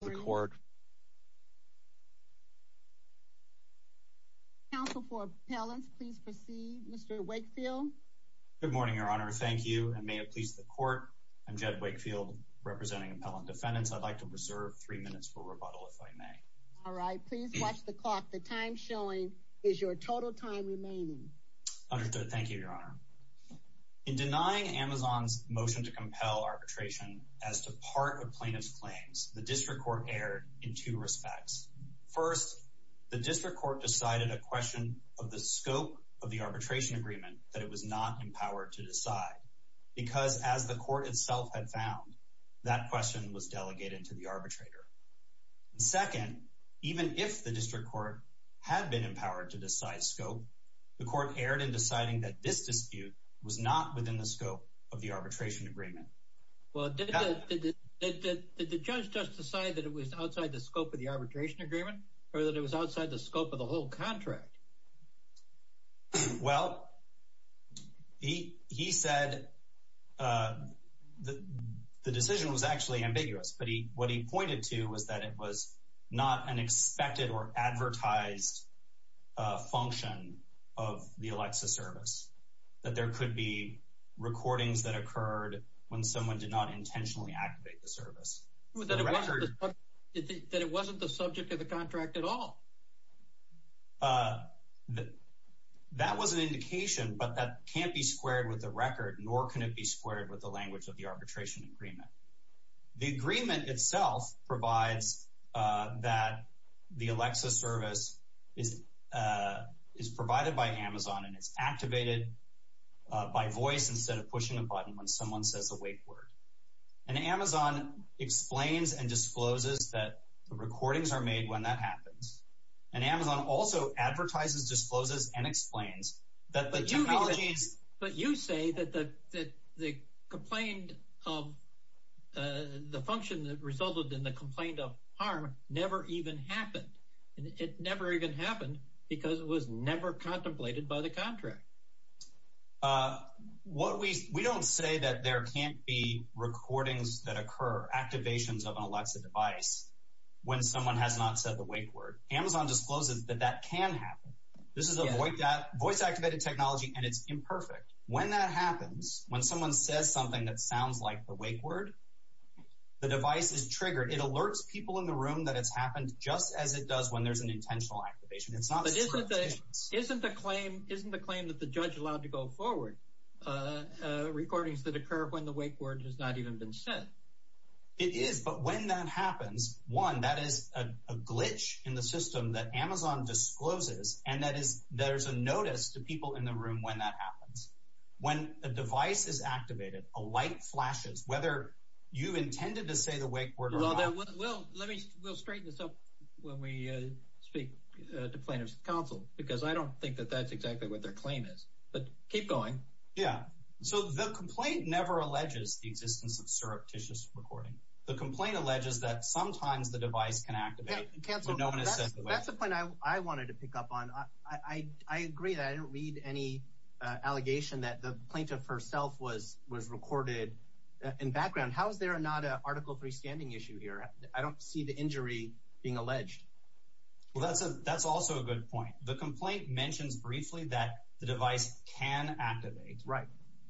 The court. Council for appellants. Please proceed Mr Wakefield. Good morning Your Honor. Thank you and may it please the court. I'm Jed Wakefield representing appellant defendants. I'd like to preserve three minutes for rebuttal if I may. All right, please watch the clock. The time showing is your total time remaining. Understood. Thank you, Your Honor. In denying Amazon's motion to compel arbitration as to part of plaintiff's claims, the district court erred in two respects. First, the district court decided a question of the scope of the arbitration agreement that it was not empowered to decide because, as the court itself had found, that question was delegated to the arbitrator. Second, even if the district court had been empowered to decide scope, the court erred in deciding that this dispute was not within the scope of the arbitration agreement. Well, did the judge just decide that it was outside the scope of the arbitration agreement or that it was outside the scope of the whole contract? Well, he said the decision was actually ambiguous, but what he pointed to was that it was not an recording that occurred when someone did not intentionally activate the service. That it wasn't the subject of the contract at all? That was an indication, but that can't be squared with the record, nor can it be squared with the language of the arbitration agreement. The agreement itself provides that the Alexa service is provided by Amazon and it's activated by voice instead of pushing a button when someone says a wake word. And Amazon explains and discloses that the recordings are made when that happens. And Amazon also advertises, discloses and explains that the technology is... But you say that the complaint of the function that resulted in the complaint of harm never even happened. It never even happened because it was never contemplated by the contract. What we... We don't say that there can't be recordings that occur, activations of an Alexa device when someone has not said the wake word. Amazon discloses that that can happen. This is a voice activated technology and it's imperfect. When that happens, when someone says something that sounds like the wake word, the device is triggered. It alerts people in the room that it's happened just as it does when there's an Isn't the claim, isn't the claim that the judge allowed to go forward recordings that occur when the wake word has not even been said? It is. But when that happens, one, that is a glitch in the system that Amazon discloses. And that is, there's a notice to people in the room when that happens. When a device is activated, a light flashes, whether you intended to say the wake word or not. We'll straighten this up when we speak to plaintiff's counsel, because I don't think that that's exactly what their claim is. But keep going. Yeah, so the complaint never alleges the existence of surreptitious recording. The complaint alleges that sometimes the device can activate when no one has said the wake word. That's the point I wanted to pick up on. I agree that I don't read any allegation that the plaintiff herself was was recorded in background. How is there not an article three standing issue here? I don't see the injury being alleged. Well, that's a that's also a good point. The complaint mentions briefly that the device can activate. Right.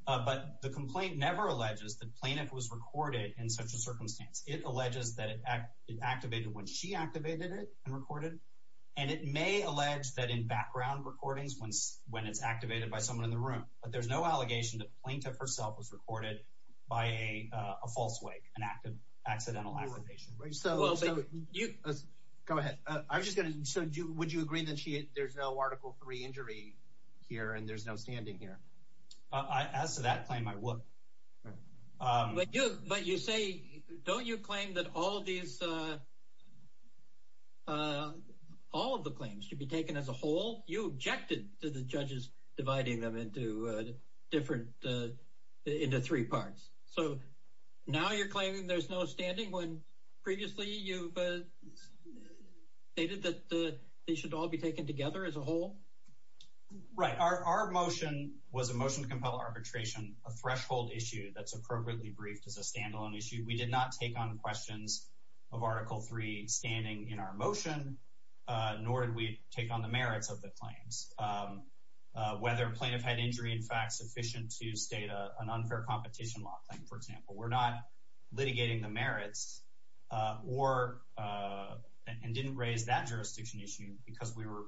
But the complaint never alleges that plaintiff was recorded in such a circumstance. It alleges that it activated when she activated it and recorded. And it may allege that in background recordings, when it's activated by someone in the room. But there's no allegation that plaintiff herself was recorded by a false wake, an accidental activation. Go ahead. I'm just gonna, so would you agree that there's no article three injury here and there's no standing here? As to that claim, I would. But you say, don't you claim that all of these, all of the claims should be taken as a whole? You split them into three parts. So now you're claiming there's no standing when previously you stated that they should all be taken together as a whole? Right. Our motion was a motion to compel arbitration, a threshold issue that's appropriately briefed as a standalone issue. We did not take on questions of article three standing in our motion, nor did we take on the merits of the motion to state an unfair competition law claim, for example. We're not litigating the merits or, and didn't raise that jurisdiction issue because we were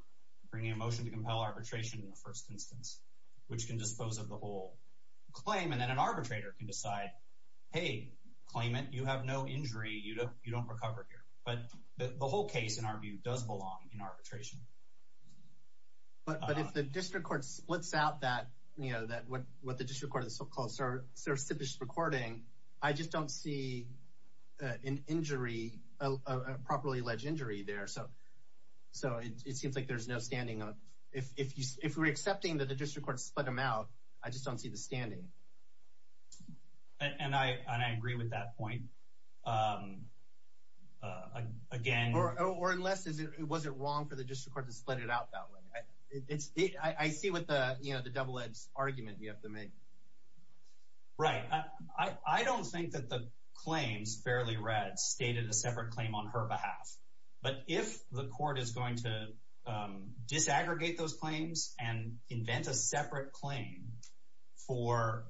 bringing a motion to compel arbitration in the first instance, which can dispose of the whole claim. And then an arbitrator can decide, hey, claim it. You have no injury. You don't recover here. But the whole case, in our view, does belong in arbitration. But if the district court splits out that, you know, that what the district court has so-called sercificed recording, I just don't see an injury, a properly alleged injury there. So it seems like there's no standing. If we're accepting that the district court split them out, I just don't see the standing. And I agree with that point. Again... Or unless it wasn't wrong for the district court to split it out that way. I see what the, you know, the double-edged argument you have to make. Right. I don't think that the claims Fairley Red stated a separate claim on her behalf. But if the court is going to disaggregate those claims and invent a separate claim for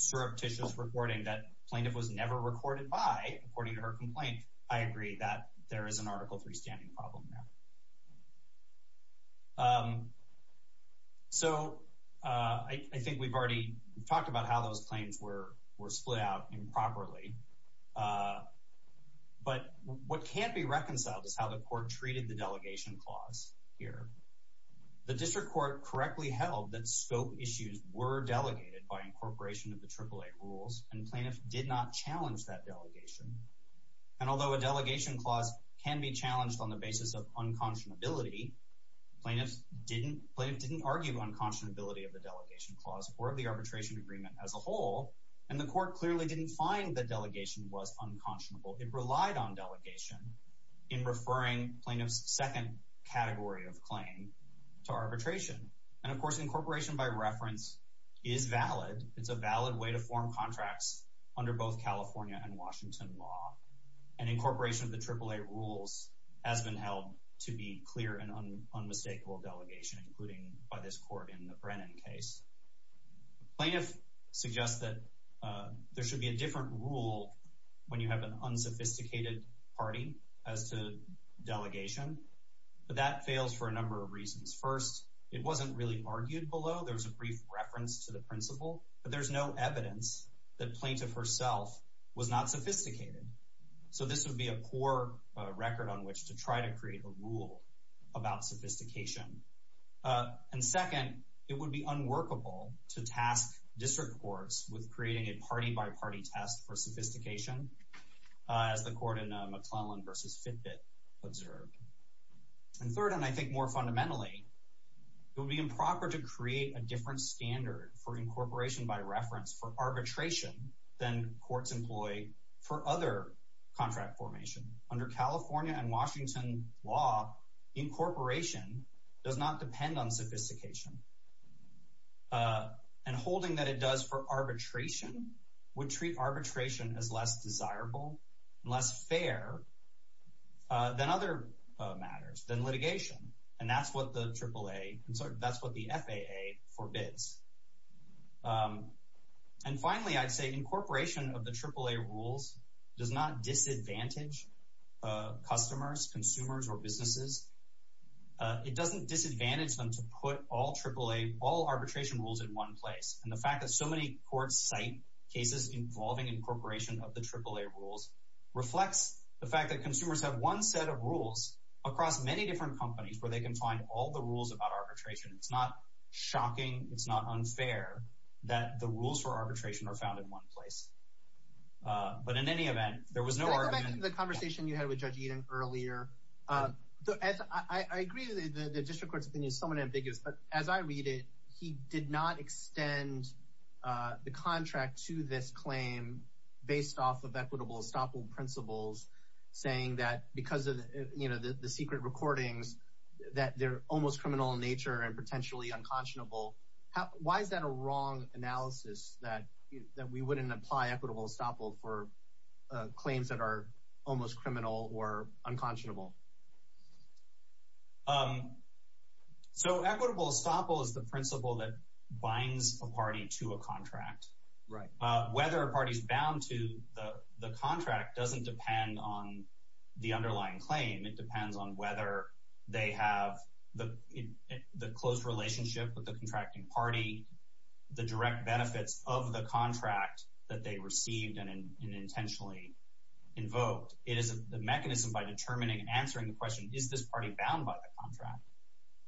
surreptitious reporting that plaintiff was never recorded by, according to her complaint, I agree that there is an article 3 standing problem there. So I think we've already talked about how those claims were split out improperly. But what can't be reconciled is how the court treated the delegation clause here. The district court correctly held that scope issues were delegated by incorporation of the AAA rules and plaintiffs did not challenge that delegation. And although a delegation clause can be used on the basis of unconscionability, plaintiffs didn't argue unconscionability of the delegation clause or of the arbitration agreement as a whole. And the court clearly didn't find the delegation was unconscionable. It relied on delegation in referring plaintiffs' second category of claim to arbitration. And of course incorporation by reference is valid. It's a valid way to form contracts under both California and Washington law. And incorporation of AAA rules has been held to be clear and unmistakable delegation, including by this court in the Brennan case. Plaintiff suggests that there should be a different rule when you have an unsophisticated party as to delegation, but that fails for a number of reasons. First, it wasn't really argued below. There was a brief reference to the principle, but there's no evidence that poor record on which to try to create a rule about sophistication. And second, it would be unworkable to task district courts with creating a party-by-party test for sophistication, as the court in McClellan v. Fitbit observed. And third, and I think more fundamentally, it would be improper to create a different standard for incorporation by reference for arbitration than courts employ for other contract formation. Under California and Washington law, incorporation does not depend on sophistication. And holding that it does for arbitration would treat arbitration as less desirable, less fair than other matters, than litigation. And that's what the AAA, I'm sorry, that's what the FAA forbids. And does not disadvantage customers, consumers, or businesses. It doesn't disadvantage them to put all AAA, all arbitration rules in one place. And the fact that so many courts cite cases involving incorporation of the AAA rules reflects the fact that consumers have one set of rules across many different companies where they can find all the rules about arbitration. It's not shocking, it's not unfair that the rules for arbitration are found in one place. But in any event, there was no argument... Can I go back to the conversation you had with Judge Eaton earlier? I agree that the district court's opinion is somewhat ambiguous, but as I read it, he did not extend the contract to this claim based off of equitable estoppel principles, saying that because of, you know, the secret recordings, that they're almost criminal in nature and potentially unconscionable. Why is that a wrong analysis that we wouldn't apply equitable estoppel for claims that are almost criminal or unconscionable? So equitable estoppel is the principle that binds a party to a contract. Right. Whether a party's bound to the contract doesn't depend on the underlying claim, it depends on whether they have the closed relationship with the contracting party, the direct benefits of the contract that they received and intentionally invoked. It is the mechanism by determining, answering the question, is this party bound by the contract?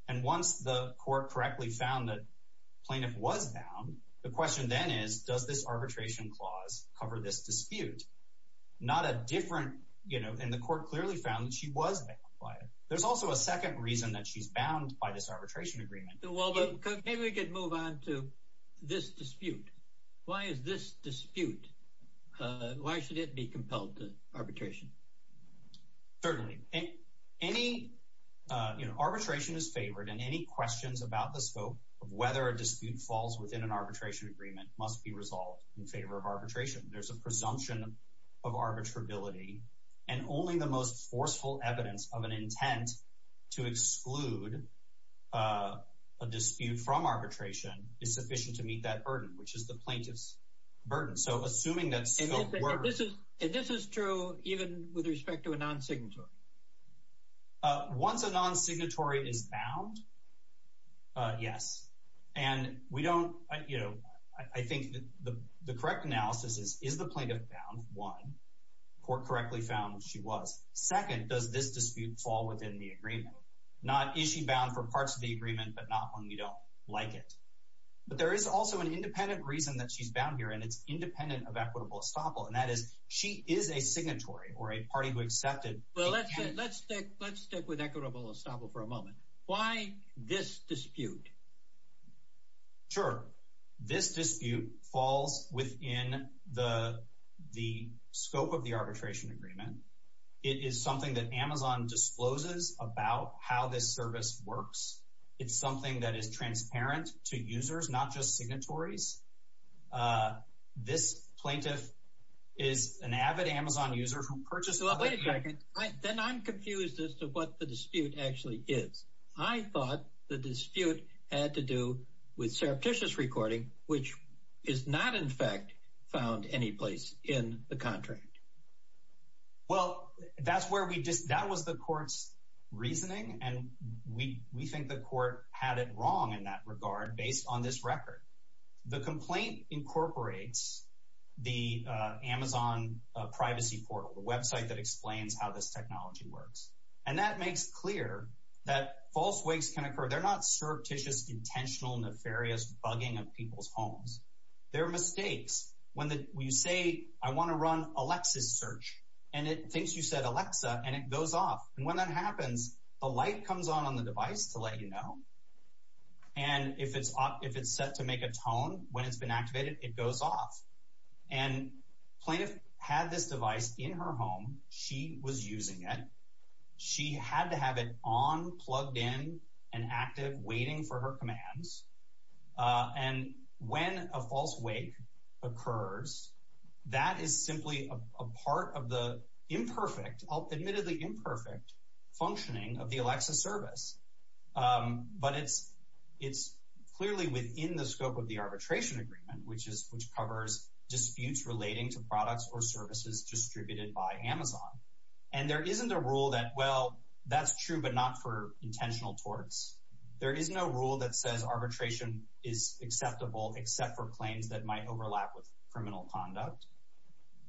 And once the court correctly found that plaintiff was bound, the question then is, does this arbitration clause cover this dispute? Not a different, you know, and the court clearly found that she was bound by it. There's also a second reason that she's bound by this arbitration agreement. Well, maybe we could move on to this dispute. Why is this dispute, why should it be compelled to arbitration? Certainly. Any, you know, arbitration is favored and any questions about the scope of whether a dispute falls within an arbitration agreement must be resolved in favor of arbitration. There's a presumption of arbitrability and only the most forceful evidence of an intent to exclude a dispute from arbitration is sufficient to meet that burden, which is the plaintiff's burden. So, assuming that... And this is, and this is true even with respect to a non-signatory? Once a non-signatory is bound, yes. And we don't, you know, I think the correct analysis is, is the plaintiff bound, one. Court correctly found she was. Second, does this dispute fall within the agreement? Not, is she bound for parts of the agreement, but not when we don't like it. But there is also an independent reason that she's bound here and it's independent of equitable estoppel, and that is she is a signatory or a party who accepted... Well, let's stick with equitable estoppel for a moment. Why this dispute? Sure. This dispute falls within the, the scope of the arbitration agreement. It is something that Amazon discloses about how this service works. It's something that is transparent to users, not just signatories. This plaintiff is an avid Amazon user who purchased... Wait a second, then I'm confused about what the dispute had to do with surreptitious recording, which is not in fact found any place in the contract. Well, that's where we just, that was the court's reasoning. And we, we think the court had it wrong in that regard based on this record. The complaint incorporates the Amazon privacy portal, the website that explains how this technology works. And that makes clear that false wakes can occur. They're not surreptitious, intentional, nefarious bugging of people's homes. They're mistakes. When you say, I want to run Alexa's search, and it thinks you said Alexa, and it goes off. And when that happens, a light comes on on the device to let you know. And if it's off, if it's set to make a tone when it's been activated, it goes off. And plaintiff had this device in her home, she was using it. She had to have it on, plugged in and active, waiting for her commands. And when a false wake occurs, that is simply a part of the imperfect, admittedly imperfect, functioning of the Alexa service. But it's, it's clearly within the scope of the arbitration agreement, which is, which covers disputes relating to products or services distributed by Amazon. And there isn't a rule that, well, that's true, but not for intentional torts. There is no rule that says arbitration is acceptable, except for claims that might overlap with criminal conduct.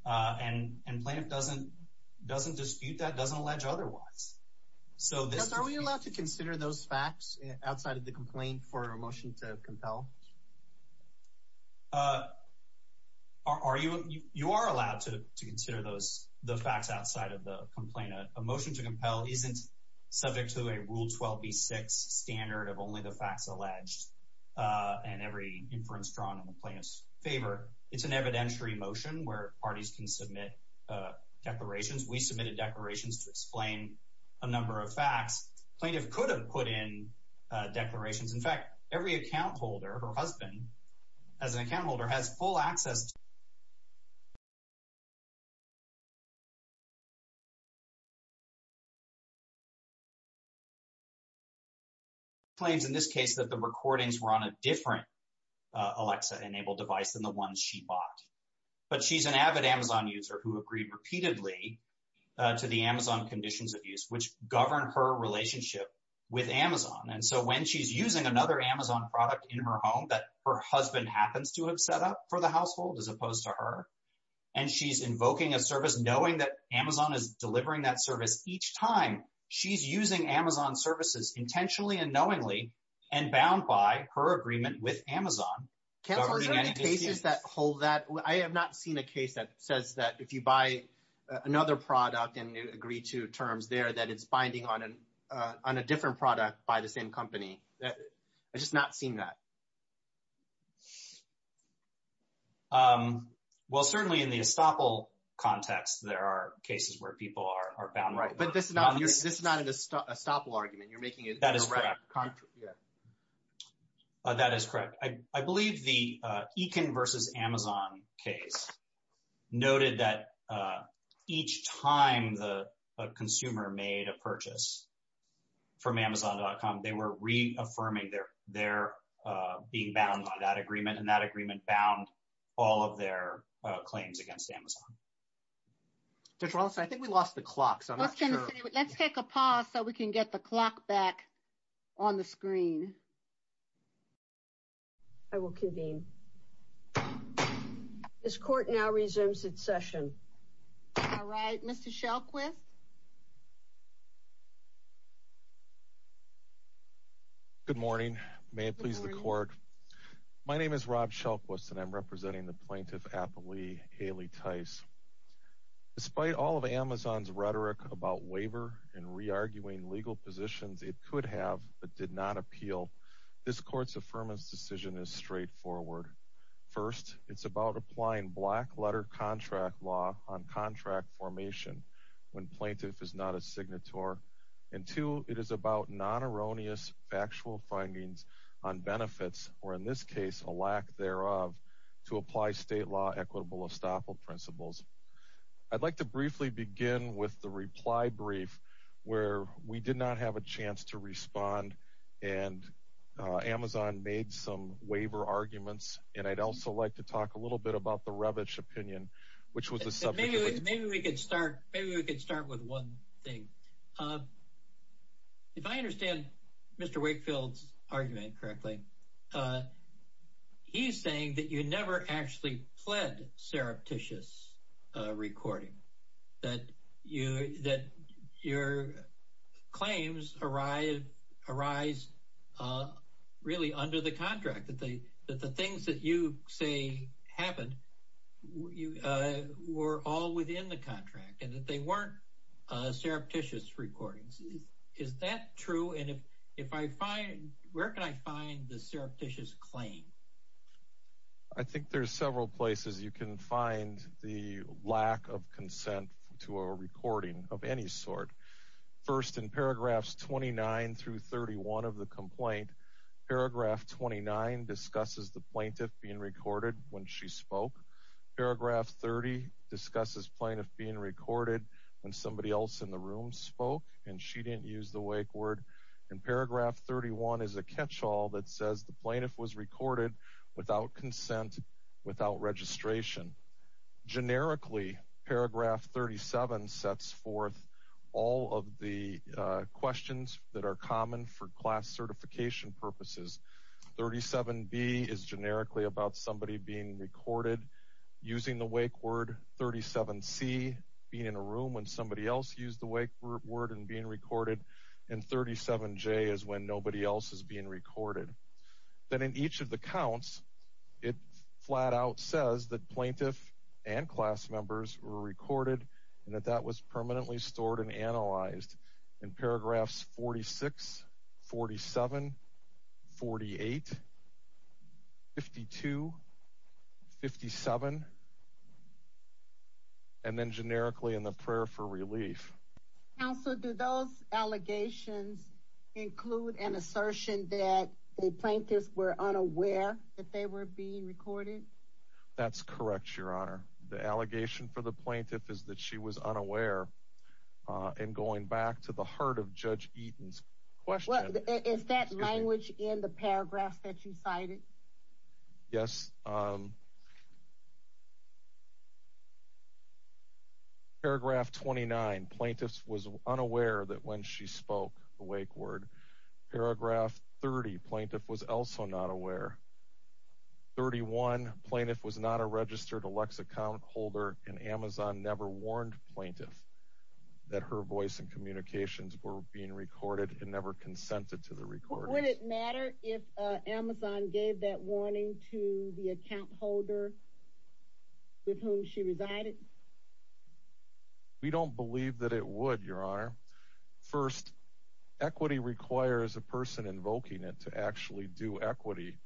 And, and plaintiff doesn't, doesn't dispute that, doesn't allege otherwise. So are we allowed to consider those facts outside of the complaint for a motion to compel? Uh, are you, you are allowed to consider those, the facts outside of the complaint. A motion to compel isn't subject to a Rule 12b-6 standard of only the facts alleged and every inference drawn in the plaintiff's favor. It's an evidentiary motion where parties can submit declarations. We submitted declarations to explain a number of facts. Plaintiff could have put in declarations. In fact, every account holder, her husband, as an account holder has full access. Claims in this case that the recordings were on a different Alexa enabled device than the one she bought. But she's an avid Amazon user who agreed repeatedly to the Amazon conditions of use, which govern her relationship with Amazon. And so when she's using another Amazon product in her home that her husband happens to have set up for the household as opposed to her, and she's invoking a service, knowing that Amazon is delivering that service each time she's using Amazon services intentionally and knowingly and bound by her agreement with Amazon. Ken, are there any cases that hold that? I have not seen a case that says that if you buy another product and you agree to terms there, that it's binding on an, on a different product by the same company. I've just not seen that. Well, certainly in the estoppel context, there are cases where people are bound. Right. But this is not an estoppel argument. You're making it in the right context. That is correct. I believe the Ekin versus Amazon case noted that each time the from amazon.com, they were reaffirming their, their being bound by that agreement. And that agreement bound all of their claims against Amazon. Judge Wallace, I think we lost the clock. So let's take a pause so we can get the clock back on the screen. I will convene. This court now resumes its session. All right, Mr. Shelquist. Good morning. May it please the court. My name is Rob Shelquist and I'm representing the plaintiff, Appley Haley Tice. Despite all of Amazon's rhetoric about waiver and re-arguing legal positions, it could have, but did not appeal. This court's affirmance decision is straightforward. First, it's about applying black letter contract law on contract formation when plaintiff is not a signatory. And two, it is about non-erroneous factual findings on benefits, or in this case, a lack thereof to apply state law equitable estoppel principles. I'd like to briefly begin with the reply brief where we did not have a chance to respond. And Amazon made some waiver arguments. And I'd also like to talk a little bit about the Revit opinion, which was the subject. Maybe we could start with one thing. If I understand Mr. Wakefield's argument correctly, he's saying that you never actually pled surreptitious recording, that your claims arise really under the contract, that the things that you say happened were all within the contract and that they weren't surreptitious recordings. Is that true? And if I find, where can I find the surreptitious claim? I think there's several places you can find the lack of consent to a recording of any sort. First, in paragraphs 29 through 31 of the record, she spoke. Paragraph 30 discusses plaintiff being recorded when somebody else in the room spoke, and she didn't use the wake word. And paragraph 31 is a catch-all that says the plaintiff was recorded without consent, without registration. Generically, paragraph 37 sets forth all of the questions that are common for class certification purposes. 37B is recorded using the wake word. 37C, being in a room when somebody else used the wake word and being recorded. And 37J is when nobody else is being recorded. Then in each of the counts, it flat out says that plaintiff and class members were recorded and that that was permanently stored and analyzed. In 57, and then generically in the prayer for relief. Counsel, do those allegations include an assertion that the plaintiffs were unaware that they were being recorded? That's correct, Your Honor. The allegation for the plaintiff is that she was unaware. And going back to the heart of Judge Eaton's question. Is that language in the paragraphs that you cited? Yes. Paragraph 29, plaintiffs was unaware that when she spoke the wake word. Paragraph 30, plaintiff was also not aware. 31, plaintiff was not a registered Alexa account holder, and Amazon never warned plaintiff that her voice and communications were being recorded and never consented to the recording. Would it matter if Amazon gave that warning to the account holder with whom she resided? We don't believe that it would, Your Honor. First, equity requires a person invoking it to actually do equity.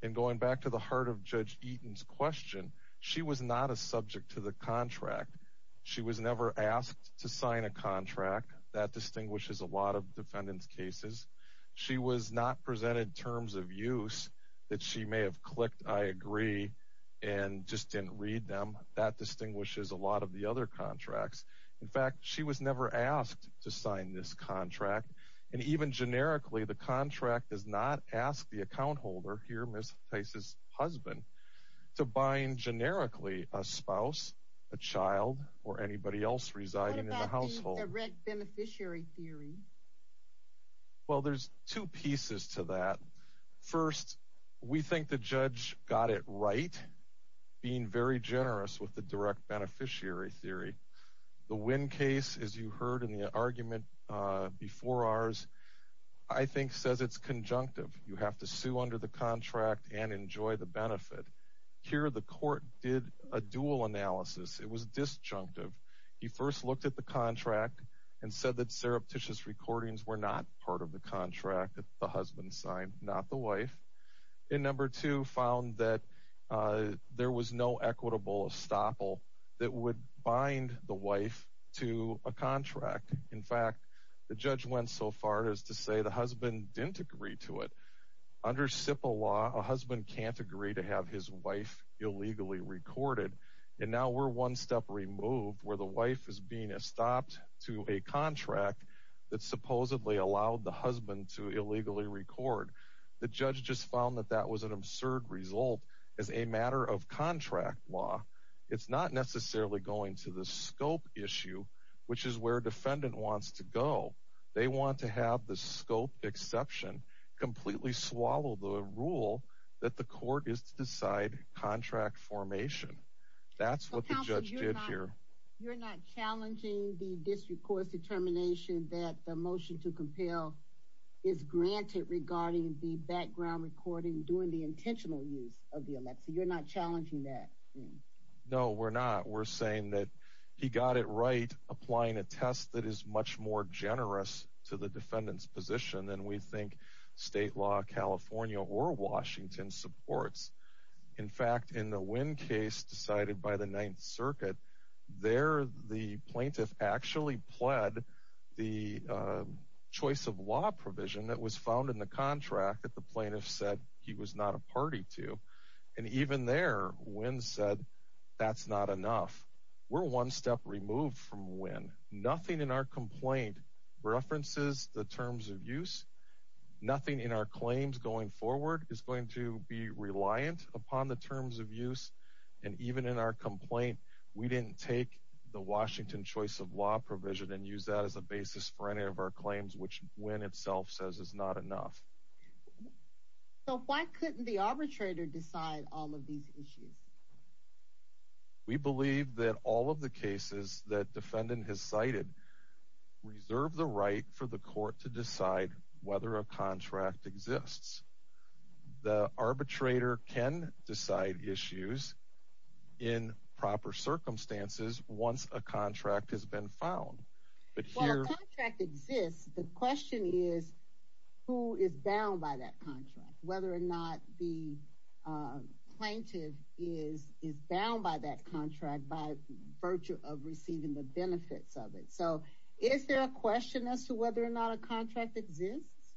And going back to the heart of Judge Eaton's question, she was not a subject to the contract. She was never asked to sign a contract. That distinguishes a lot of defendants' cases. She was not presented terms of use that she may have clicked, I agree, and just didn't read them. That distinguishes a lot of the other contracts. In fact, she was never asked to sign this contract. And even generically, the contract does not ask the account holder, here Ms. Tice's husband, to bind generically a spouse, a child, or a child. Well, there's two pieces to that. First, we think the judge got it right, being very generous with the direct beneficiary theory. The Wynn case, as you heard in the argument before ours, I think says it's conjunctive. You have to sue under the contract and enjoy the benefit. Here, the court did a dual contract and said that surreptitious recordings were not part of the contract that the husband signed, not the wife. And number two, found that there was no equitable estoppel that would bind the wife to a contract. In fact, the judge went so far as to say the husband didn't agree to it. Under SIPA law, a husband can't agree to have his wife illegally recorded. And now we're one step removed where the wife is being estopped to a contract that supposedly allowed the husband to illegally record. The judge just found that that was an absurd result as a matter of contract law. It's not necessarily going to the scope issue, which is where a defendant wants to go. They want to have the scope exception completely swallow the rule that the court is to decide contract formation. That's what the judge did here. You're not challenging the district court's determination that the motion to compel is granted regarding the background recording during the intentional use of the election. You're not challenging that. No, we're not. We're saying that he got it right. Applying a test that is much more generous to the defendant's position than we think state law California or Washington supports. In fact, in the Wynn case decided by the Ninth Circuit, there the plaintiff actually pled the choice of law provision that was found in the contract that the plaintiff said he was not a party to. And even there, Wynn said, that's not enough. We're one step removed from Wynn. Nothing in our complaint references the terms of use. Nothing in our claims going forward is going to be reliant upon the terms of use. And even in our complaint, we didn't take the Washington choice of law provision and use that as a basis for any of our claims, which Wynn itself says is not enough. So why couldn't the arbitrator decide all of these issues? We believe that all of the cases that defendant has cited reserve the right for the court to decide if a contract exists. The arbitrator can decide issues in proper circumstances once a contract has been found. Well, a contract exists. The question is, who is bound by that contract? Whether or not the plaintiff is bound by that contract by virtue of receiving the benefits of it. So is there a question as to whether or not a contract exists?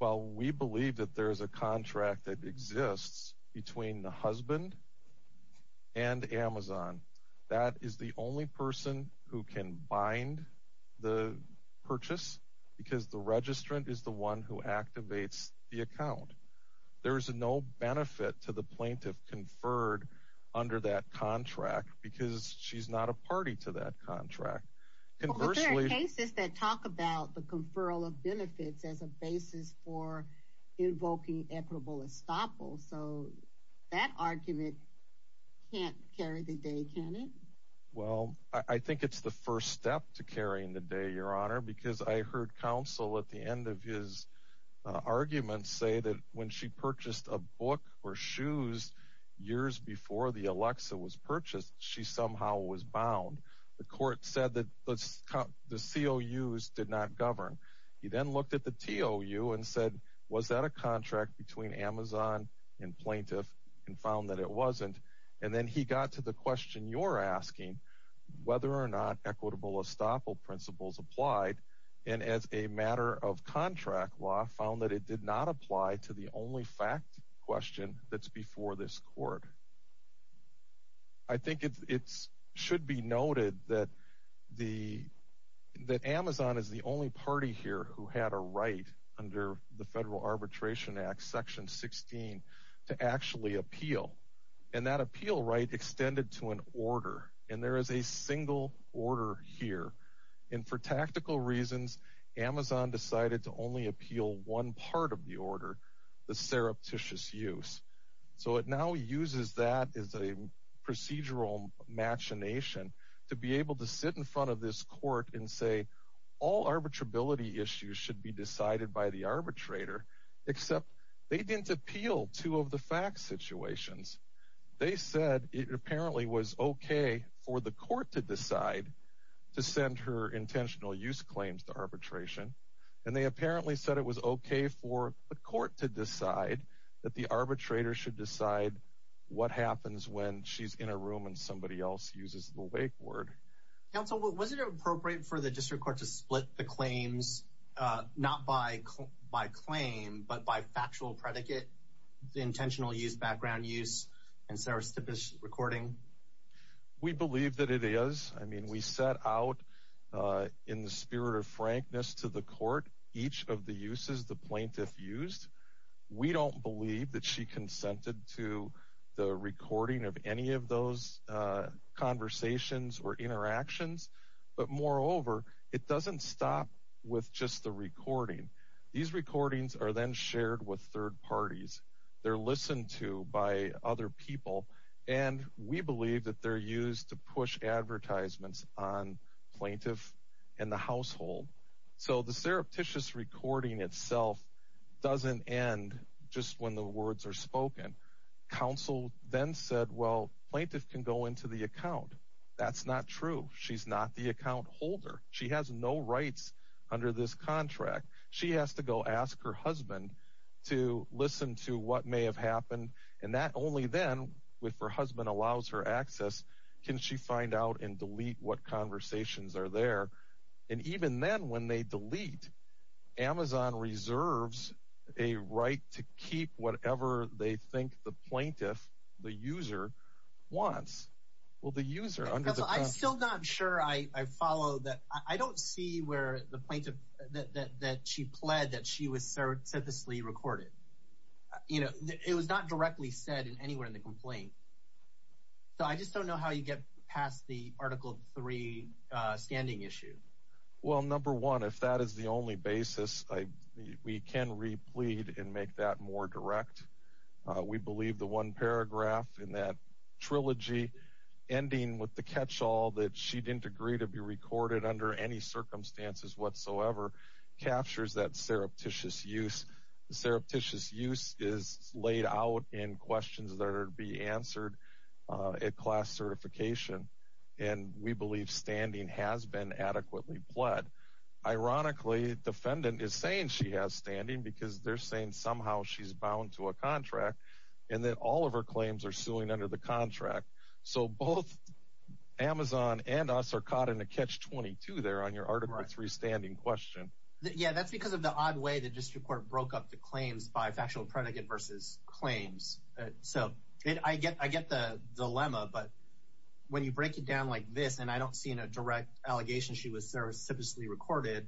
Well, we believe that there is a contract that exists between the husband and Amazon. That is the only person who can bind the purchase because the registrant is the one who activates the account. There is no benefit to the plaintiff conferred under that contract because she's not a party to that benefits as a basis for invoking equitable estoppel. So that argument can't carry the day, can it? Well, I think it's the first step to carrying the day, Your Honor, because I heard counsel at the end of his arguments say that when she purchased a book or shoes years before the Alexa was purchased, she somehow was bound. The court said that the COUs did not govern. He then looked at the TOU and said, was that a contract between Amazon and plaintiff and found that it wasn't. And then he got to the question you're asking, whether or not equitable estoppel principles applied. And as a matter of contract law, found that it did apply to the only fact question that's before this court. I think it's should be noted that the that Amazon is the only party here who had a right under the Federal Arbitration Act Section 16 to actually appeal. And that appeal right extended to an order. And there is a single order here. And for tactical reasons, Amazon decided to only appeal one part of the order, the surreptitious use. So it now uses that as a procedural machination to be able to sit in front of this court and say, all arbitrability issues should be decided by the arbitrator, except they didn't appeal two of the fact situations. They said it was OK for the court to decide that the arbitrator should decide what happens when she's in a room and somebody else uses the wake word. Counsel, was it appropriate for the district court to split the claims not by by claim, but by factual predicate, the intentional use, background use and recording? We believe that it is. I mean, we set out in the spirit of frankness to the court, each of the uses the plaintiff used. We don't believe that she consented to the recording of any of those conversations or interactions. But moreover, it doesn't stop with just the recording. These recordings are then people and we believe that they're used to push advertisements on plaintiff and the household. So the surreptitious recording itself doesn't end just when the words are spoken. Counsel then said, well, plaintiff can go into the account. That's not true. She's not the account holder. She has no rights under this contract. She has to go ask her husband to listen to what may have happened. And only then, if her husband allows her access, can she find out and delete what conversations are there. And even then, when they delete, Amazon reserves a right to keep whatever they think the plaintiff, the user wants. Well, the user under the contract. I'm still not sure I follow that. I don't see where the plaintiff that she pled that she was serendipitously recorded. You know, it was not directly said in anywhere in the complaint. So I just don't know how you get past the Article three standing issue. Well, number one, if that is the only basis, we can replete and make that more direct. We believe the one paragraph in that trilogy ending with the catch all that she didn't agree to be recorded under any circumstances whatsoever captures that surreptitious use. The surreptitious use is laid out in questions that are to be answered at class certification. And we believe standing has been adequately pled. Ironically, defendant is saying she has standing because they're saying somehow she's bound to a contract and that all of her claims are suing under the contract. So both Amazon and us are caught in a catch 22 there on your three standing question. Yeah, that's because of the odd way that district court broke up the claims by factual predicate versus claims. So I get I get the dilemma. But when you break it down like this, and I don't see in a direct allegation, she was serendipitously recorded.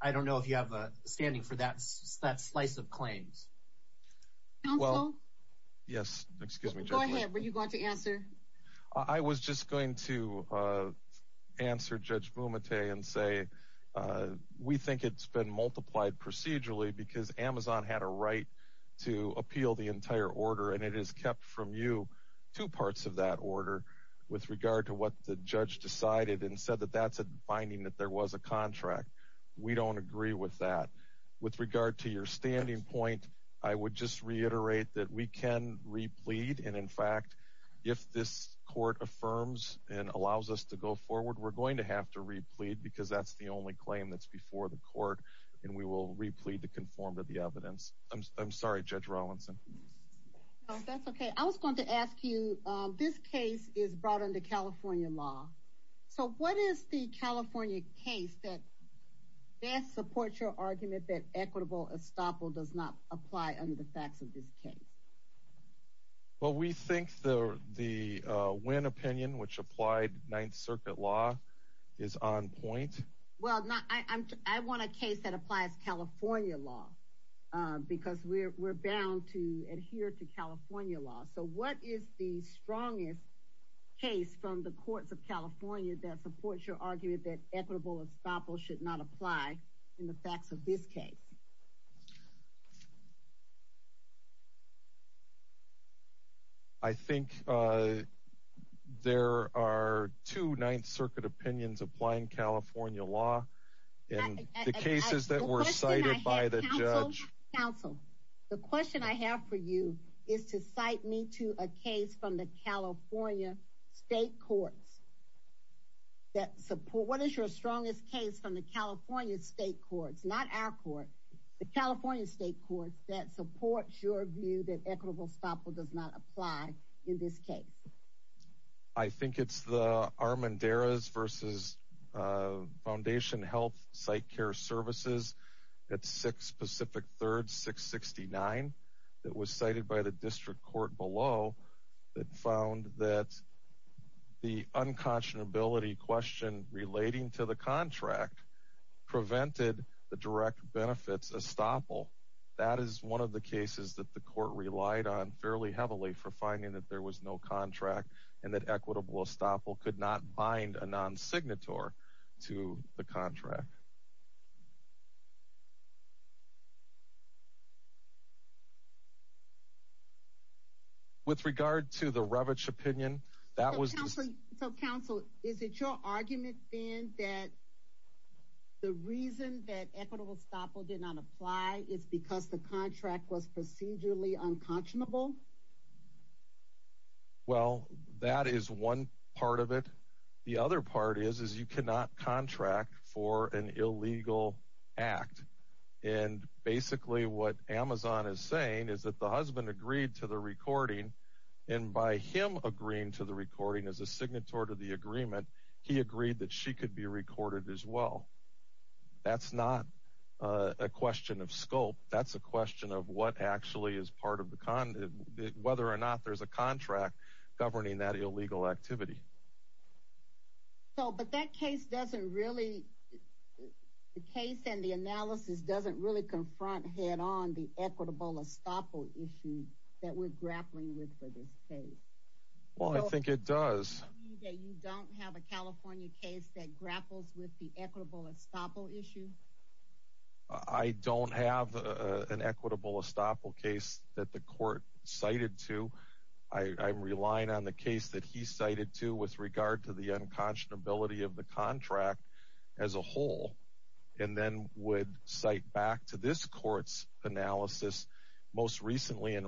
I don't know if you have a standing for that. That's slice of claims. Well, yes, excuse me. Go ahead. Were you going to answer? I was just going to answer Judge Bumate and say we think it's been multiplied procedurally because Amazon had a right to appeal the entire order. And it is kept from you two parts of that order with regard to what the judge decided and said that that's a finding that there was a contract. We don't agree with that. With regard to your standing point, I would just reiterate that we can replete. And in fact, if this court affirms and allows us to go forward, we're going to have to replete because that's the only claim that's before the court. And we will replete to conform to the evidence. I'm sorry, Judge Rawlinson. That's okay. I was going to ask you. This case is brought into California law. So what is the California case that? Yes, support your argument that equitable estoppel does not apply under the facts of this case. Well, we think the the win opinion which applied Ninth Circuit law is on point. Well, I want a case that applies California law because we're bound to adhere to California law. So what is the strongest case from the courts of California that supports your argument that equitable estoppel should not apply in the facts of this case? I think, uh, there are two Ninth Circuit opinions applying California law in the cases that were cited by the judge. Counsel, the question I have for you is to cite me to a case from the California state courts that support. What is your strongest case from the California state courts, not our court, the California state courts that support your view that equitable estoppel does not apply in this case? I think it's the Armanderas versus, uh, Foundation Health site care services at six Pacific Third 669 that was cited by the district court below that found that the unconscionability question relating to the contract prevented the direct benefits estoppel. That is one of the cases that the court relied on fairly heavily for finding that there was no contract and that equitable estoppel could not bind a non signator to the contract. With regard to the ravage opinion that was so, Counsel, is it your argument then that the reason that equitable estoppel did not apply is because the contract was procedurally unconscionable? Well, that is one part of it. The other part is, is you cannot contract for an illegal act. And basically what Amazon is saying is that the husband agreed to the recording and by him agreeing to the recording as a signatory to the she could be recorded as well. That's not a question of scope. That's a question of what actually is part of the con, whether or not there's a contract governing that illegal activity. So, but that case doesn't really the case and the analysis doesn't really confront head on the equitable estoppel issue that we're grappling with for this case. Well, I think it does that you don't have a California case that grapples with the equitable estoppel issue. I don't have an equitable estoppel case that the court cited to. I'm relying on the case that he cited to with regard to the unconscionability of the contract as a whole and then would cite back to this court's analysis most recently in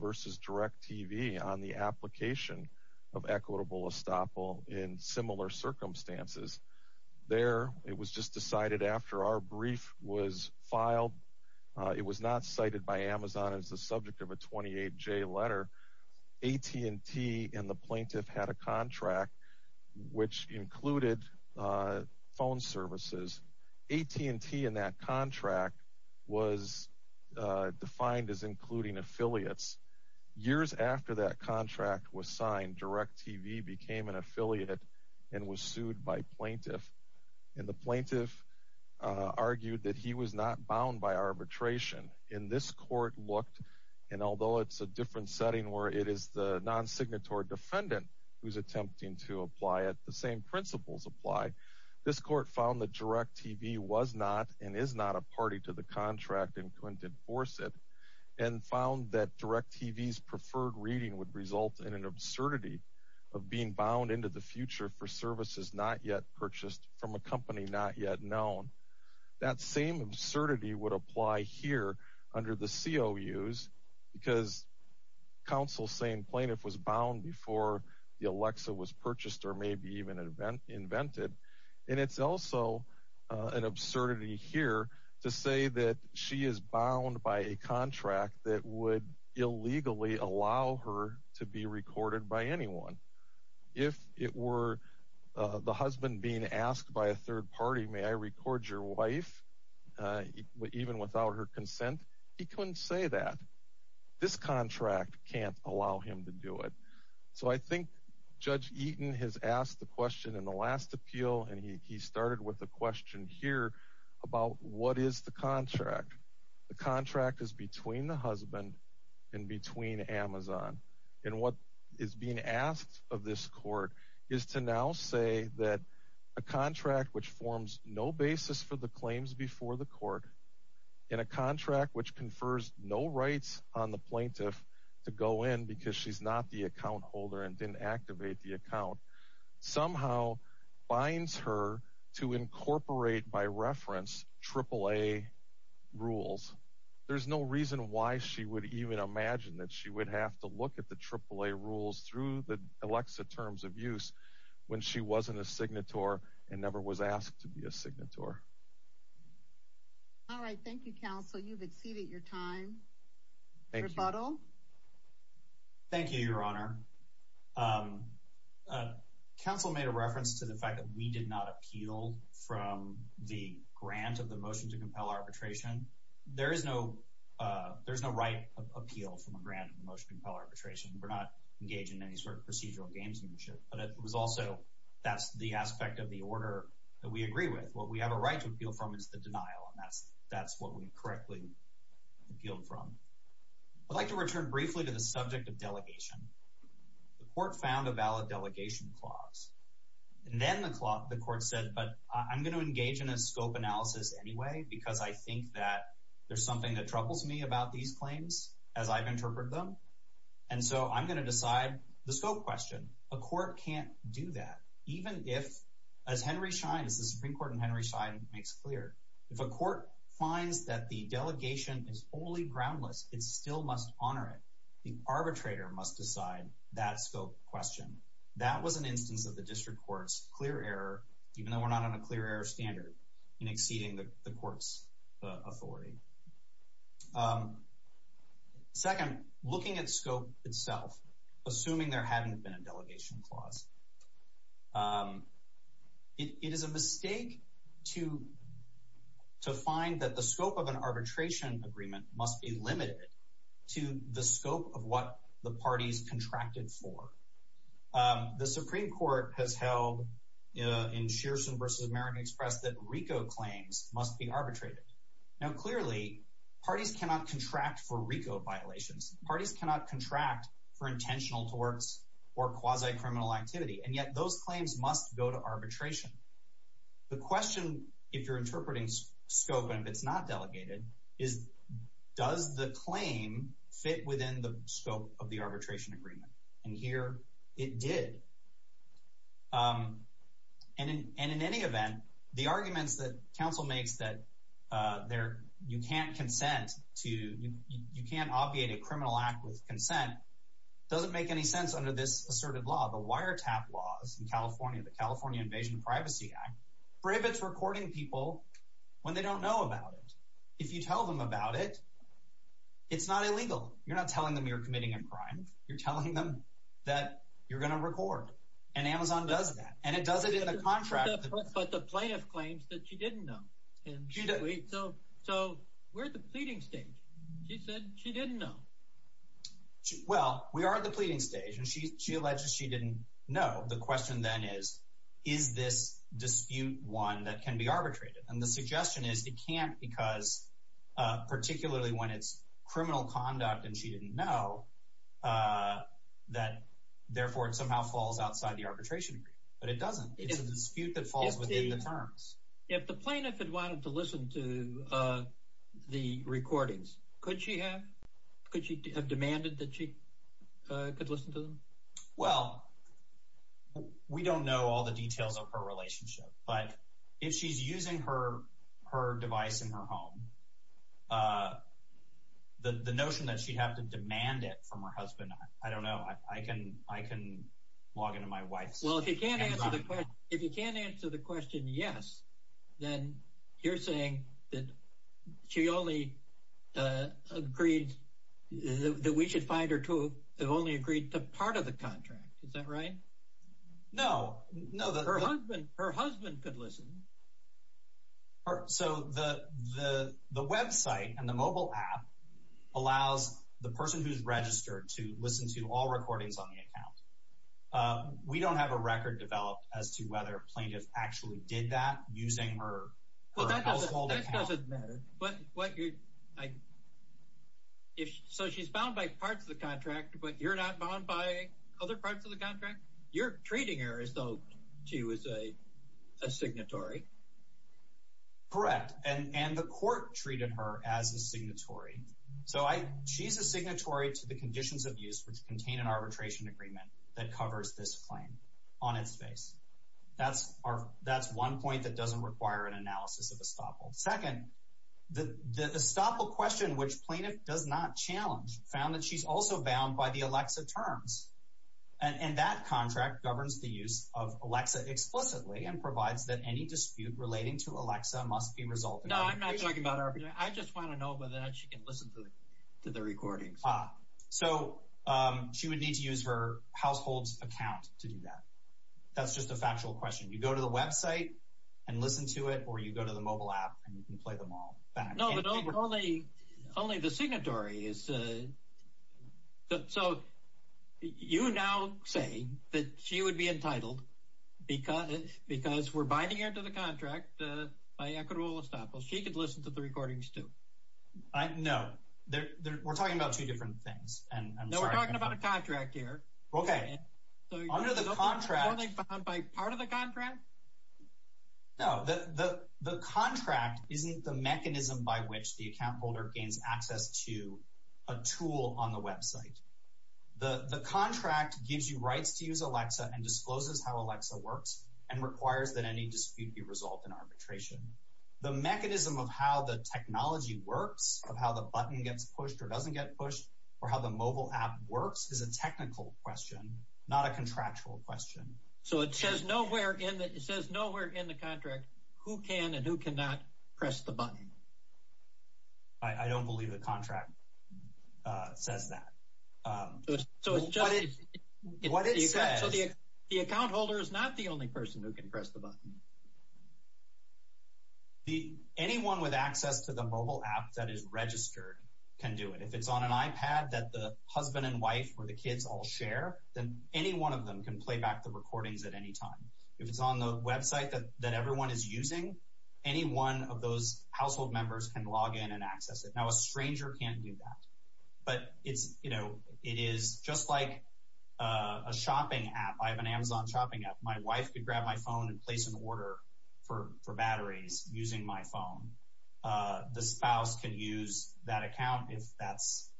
versus direct TV on the application of equitable estoppel in similar circumstances. There, it was just decided after our brief was filed, it was not cited by Amazon as the subject of a 28 J letter. AT&T and the plaintiff had a contract which included phone services. AT&T in that contract was defined as years after that contract was signed, direct TV became an affiliate and was sued by plaintiff and the plaintiff argued that he was not bound by arbitration in this court looked and although it's a different setting where it is the non signatory defendant who's attempting to apply it, the same principles apply. This court found the direct TV was not and is not a party to the contract and couldn't enforce it and found that direct TV's preferred reading would result in an absurdity of being bound into the future for services not yet purchased from a company not yet known. That same absurdity would apply here under the COUs because counsel saying plaintiff was bound before the Alexa was purchased or maybe even invented. And it's also an absurdity here to say that she is bound by a contract that would illegally allow her to be recorded by anyone. If it were the husband being asked by a third party, may I record your wife even without her consent? He couldn't say that. This contract can't allow him to do it. So I think Judge Eaton has asked the last appeal and he started with a question here about what is the contract. The contract is between the husband and between Amazon and what is being asked of this court is to now say that a contract which forms no basis for the claims before the court in a contract which confers no rights on the plaintiff to go in because she's not the account holder and didn't activate the account. Somehow binds her to incorporate by reference AAA rules. There's no reason why she would even imagine that she would have to look at the AAA rules through the Alexa terms of use when she wasn't a signator and never was asked to Council made a reference to the fact that we did not appeal from the grant of the motion to compel arbitration. There is no there's no right of appeal from a grant of the motion to compel arbitration. We're not engaged in any sort of procedural gamesmanship but it was also that's the aspect of the order that we agree with. What we have a right to appeal from is the denial and that's that's what we correctly appealed from. I'd like to return briefly to the subject of and then the clock the court said but I'm going to engage in a scope analysis anyway because I think that there's something that troubles me about these claims as I've interpreted them and so I'm going to decide the scope question a court can't do that even if as Henry Schein is the Supreme Court and Henry Schein makes clear if a court finds that the delegation is only groundless it still must honor it. The arbitrator must decide that scope question. That was an instance of the district courts clear error even though we're not on a clear error standard in exceeding the courts authority. Second looking at scope itself assuming there hadn't been a delegation clause it is a mistake to to find that the scope of an arbitration agreement must be limited to the scope of what the parties contracted for. The Supreme Court has held in Shearson versus American Express that RICO claims must be arbitrated. Now clearly parties cannot contract for RICO violations. Parties cannot contract for intentional torts or quasi criminal activity and yet those claims must go to arbitration. The delegated is does the claim fit within the scope of the arbitration agreement and here it did and in any event the arguments that counsel makes that there you can't consent to you can't obviate a criminal act with consent doesn't make any sense under this asserted law the wiretap laws in California the California Invasion Privacy Act prohibits recording people when they don't know about it. If you tell them about it it's not illegal you're not telling them you're committing a crime you're telling them that you're gonna record and Amazon does that and it does it in the contract. But the plaintiff claims that she didn't know. So we're at the pleading stage. She said she didn't know. Well we are at the pleading stage and she alleges she didn't know the question then is is this dispute one that can be arbitrated and the answer is it can't because particularly when it's criminal conduct and she didn't know that therefore it somehow falls outside the arbitration but it doesn't it's a dispute that falls within the terms. If the plaintiff had wanted to listen to the recordings could she have? Could she have demanded that she could listen to them? Well we don't know all the details of her relationship but if she's using her her device in her home the notion that she'd have to demand it from her husband I don't know I can I can log into my wife's. Well if you can't answer the question yes then you're saying that she only agreed that we should find her to have only agreed to part of the contract is that right? No her husband could listen. So the the the website and the mobile app allows the person who's registered to listen to all recordings on the account. We don't have a record developed as to whether plaintiff actually did that using her household account. That doesn't matter. So she's bound by parts of the contract but you're not bound by other parts of the account to as a signatory? Correct and and the court treated her as a signatory. So I she's a signatory to the conditions of use which contain an arbitration agreement that covers this claim on its face. That's our that's one point that doesn't require an analysis of estoppel. Second the estoppel question which plaintiff does not challenge found that she's also bound by the Alexa terms and that contract governs the use of Alexa explicitly and provides that any dispute relating to Alexa must be resolved. No I'm not talking about arbitration. I just want to know whether or not she can listen to the recordings. So she would need to use her household's account to do that. That's just a factual question. You go to the website and listen to it or you go to the mobile app and you can play them all. Only the signatory is. So you now say that she would be entitled because because we're binding her to the contract by equitable estoppel. She could listen to the recordings too. No we're talking about two different things. No we're talking about a contract here. Okay under the contract. Are they bound by part of the contract isn't the mechanism by which the account holder gains access to a tool on the website. The the contract gives you rights to use Alexa and discloses how Alexa works and requires that any dispute be resolved in arbitration. The mechanism of how the technology works of how the button gets pushed or doesn't get pushed or how the mobile app works is a technical question not a contractual question. So it says nowhere in that it says nowhere in the can not press the button. I don't believe the contract says that. So it's just what it says. The account holder is not the only person who can press the button. Anyone with access to the mobile app that is registered can do it. If it's on an iPad that the husband and wife or the kids all share then any one of them can play back the recordings at any time. If it's on the website that everyone is using any one of those household members can log in and access it. Now a stranger can't do that. But it's you know it is just like a shopping app. I have an Amazon shopping app. My wife could grab my phone and place an order for batteries using my phone. The spouse can use that account if that's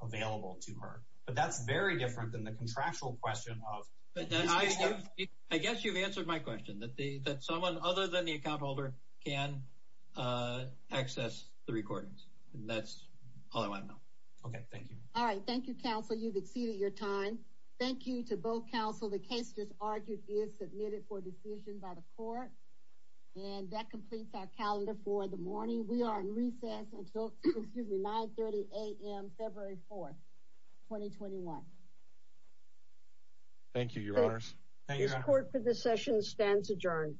available to her. But that's very different than the contractual question. I guess you've answered my question that someone other than the account holder can access the recordings. That's all I want to know. Okay. Thank you. All right. Thank you counsel. You've exceeded your time. Thank you to both counsel. The case just argued is submitted for decision by the court. And that completes our calendar for the morning. We are in recess until 930 a.m. February 4th 2021. Thank you your honors. Thank you. Court for this session stands adjourned.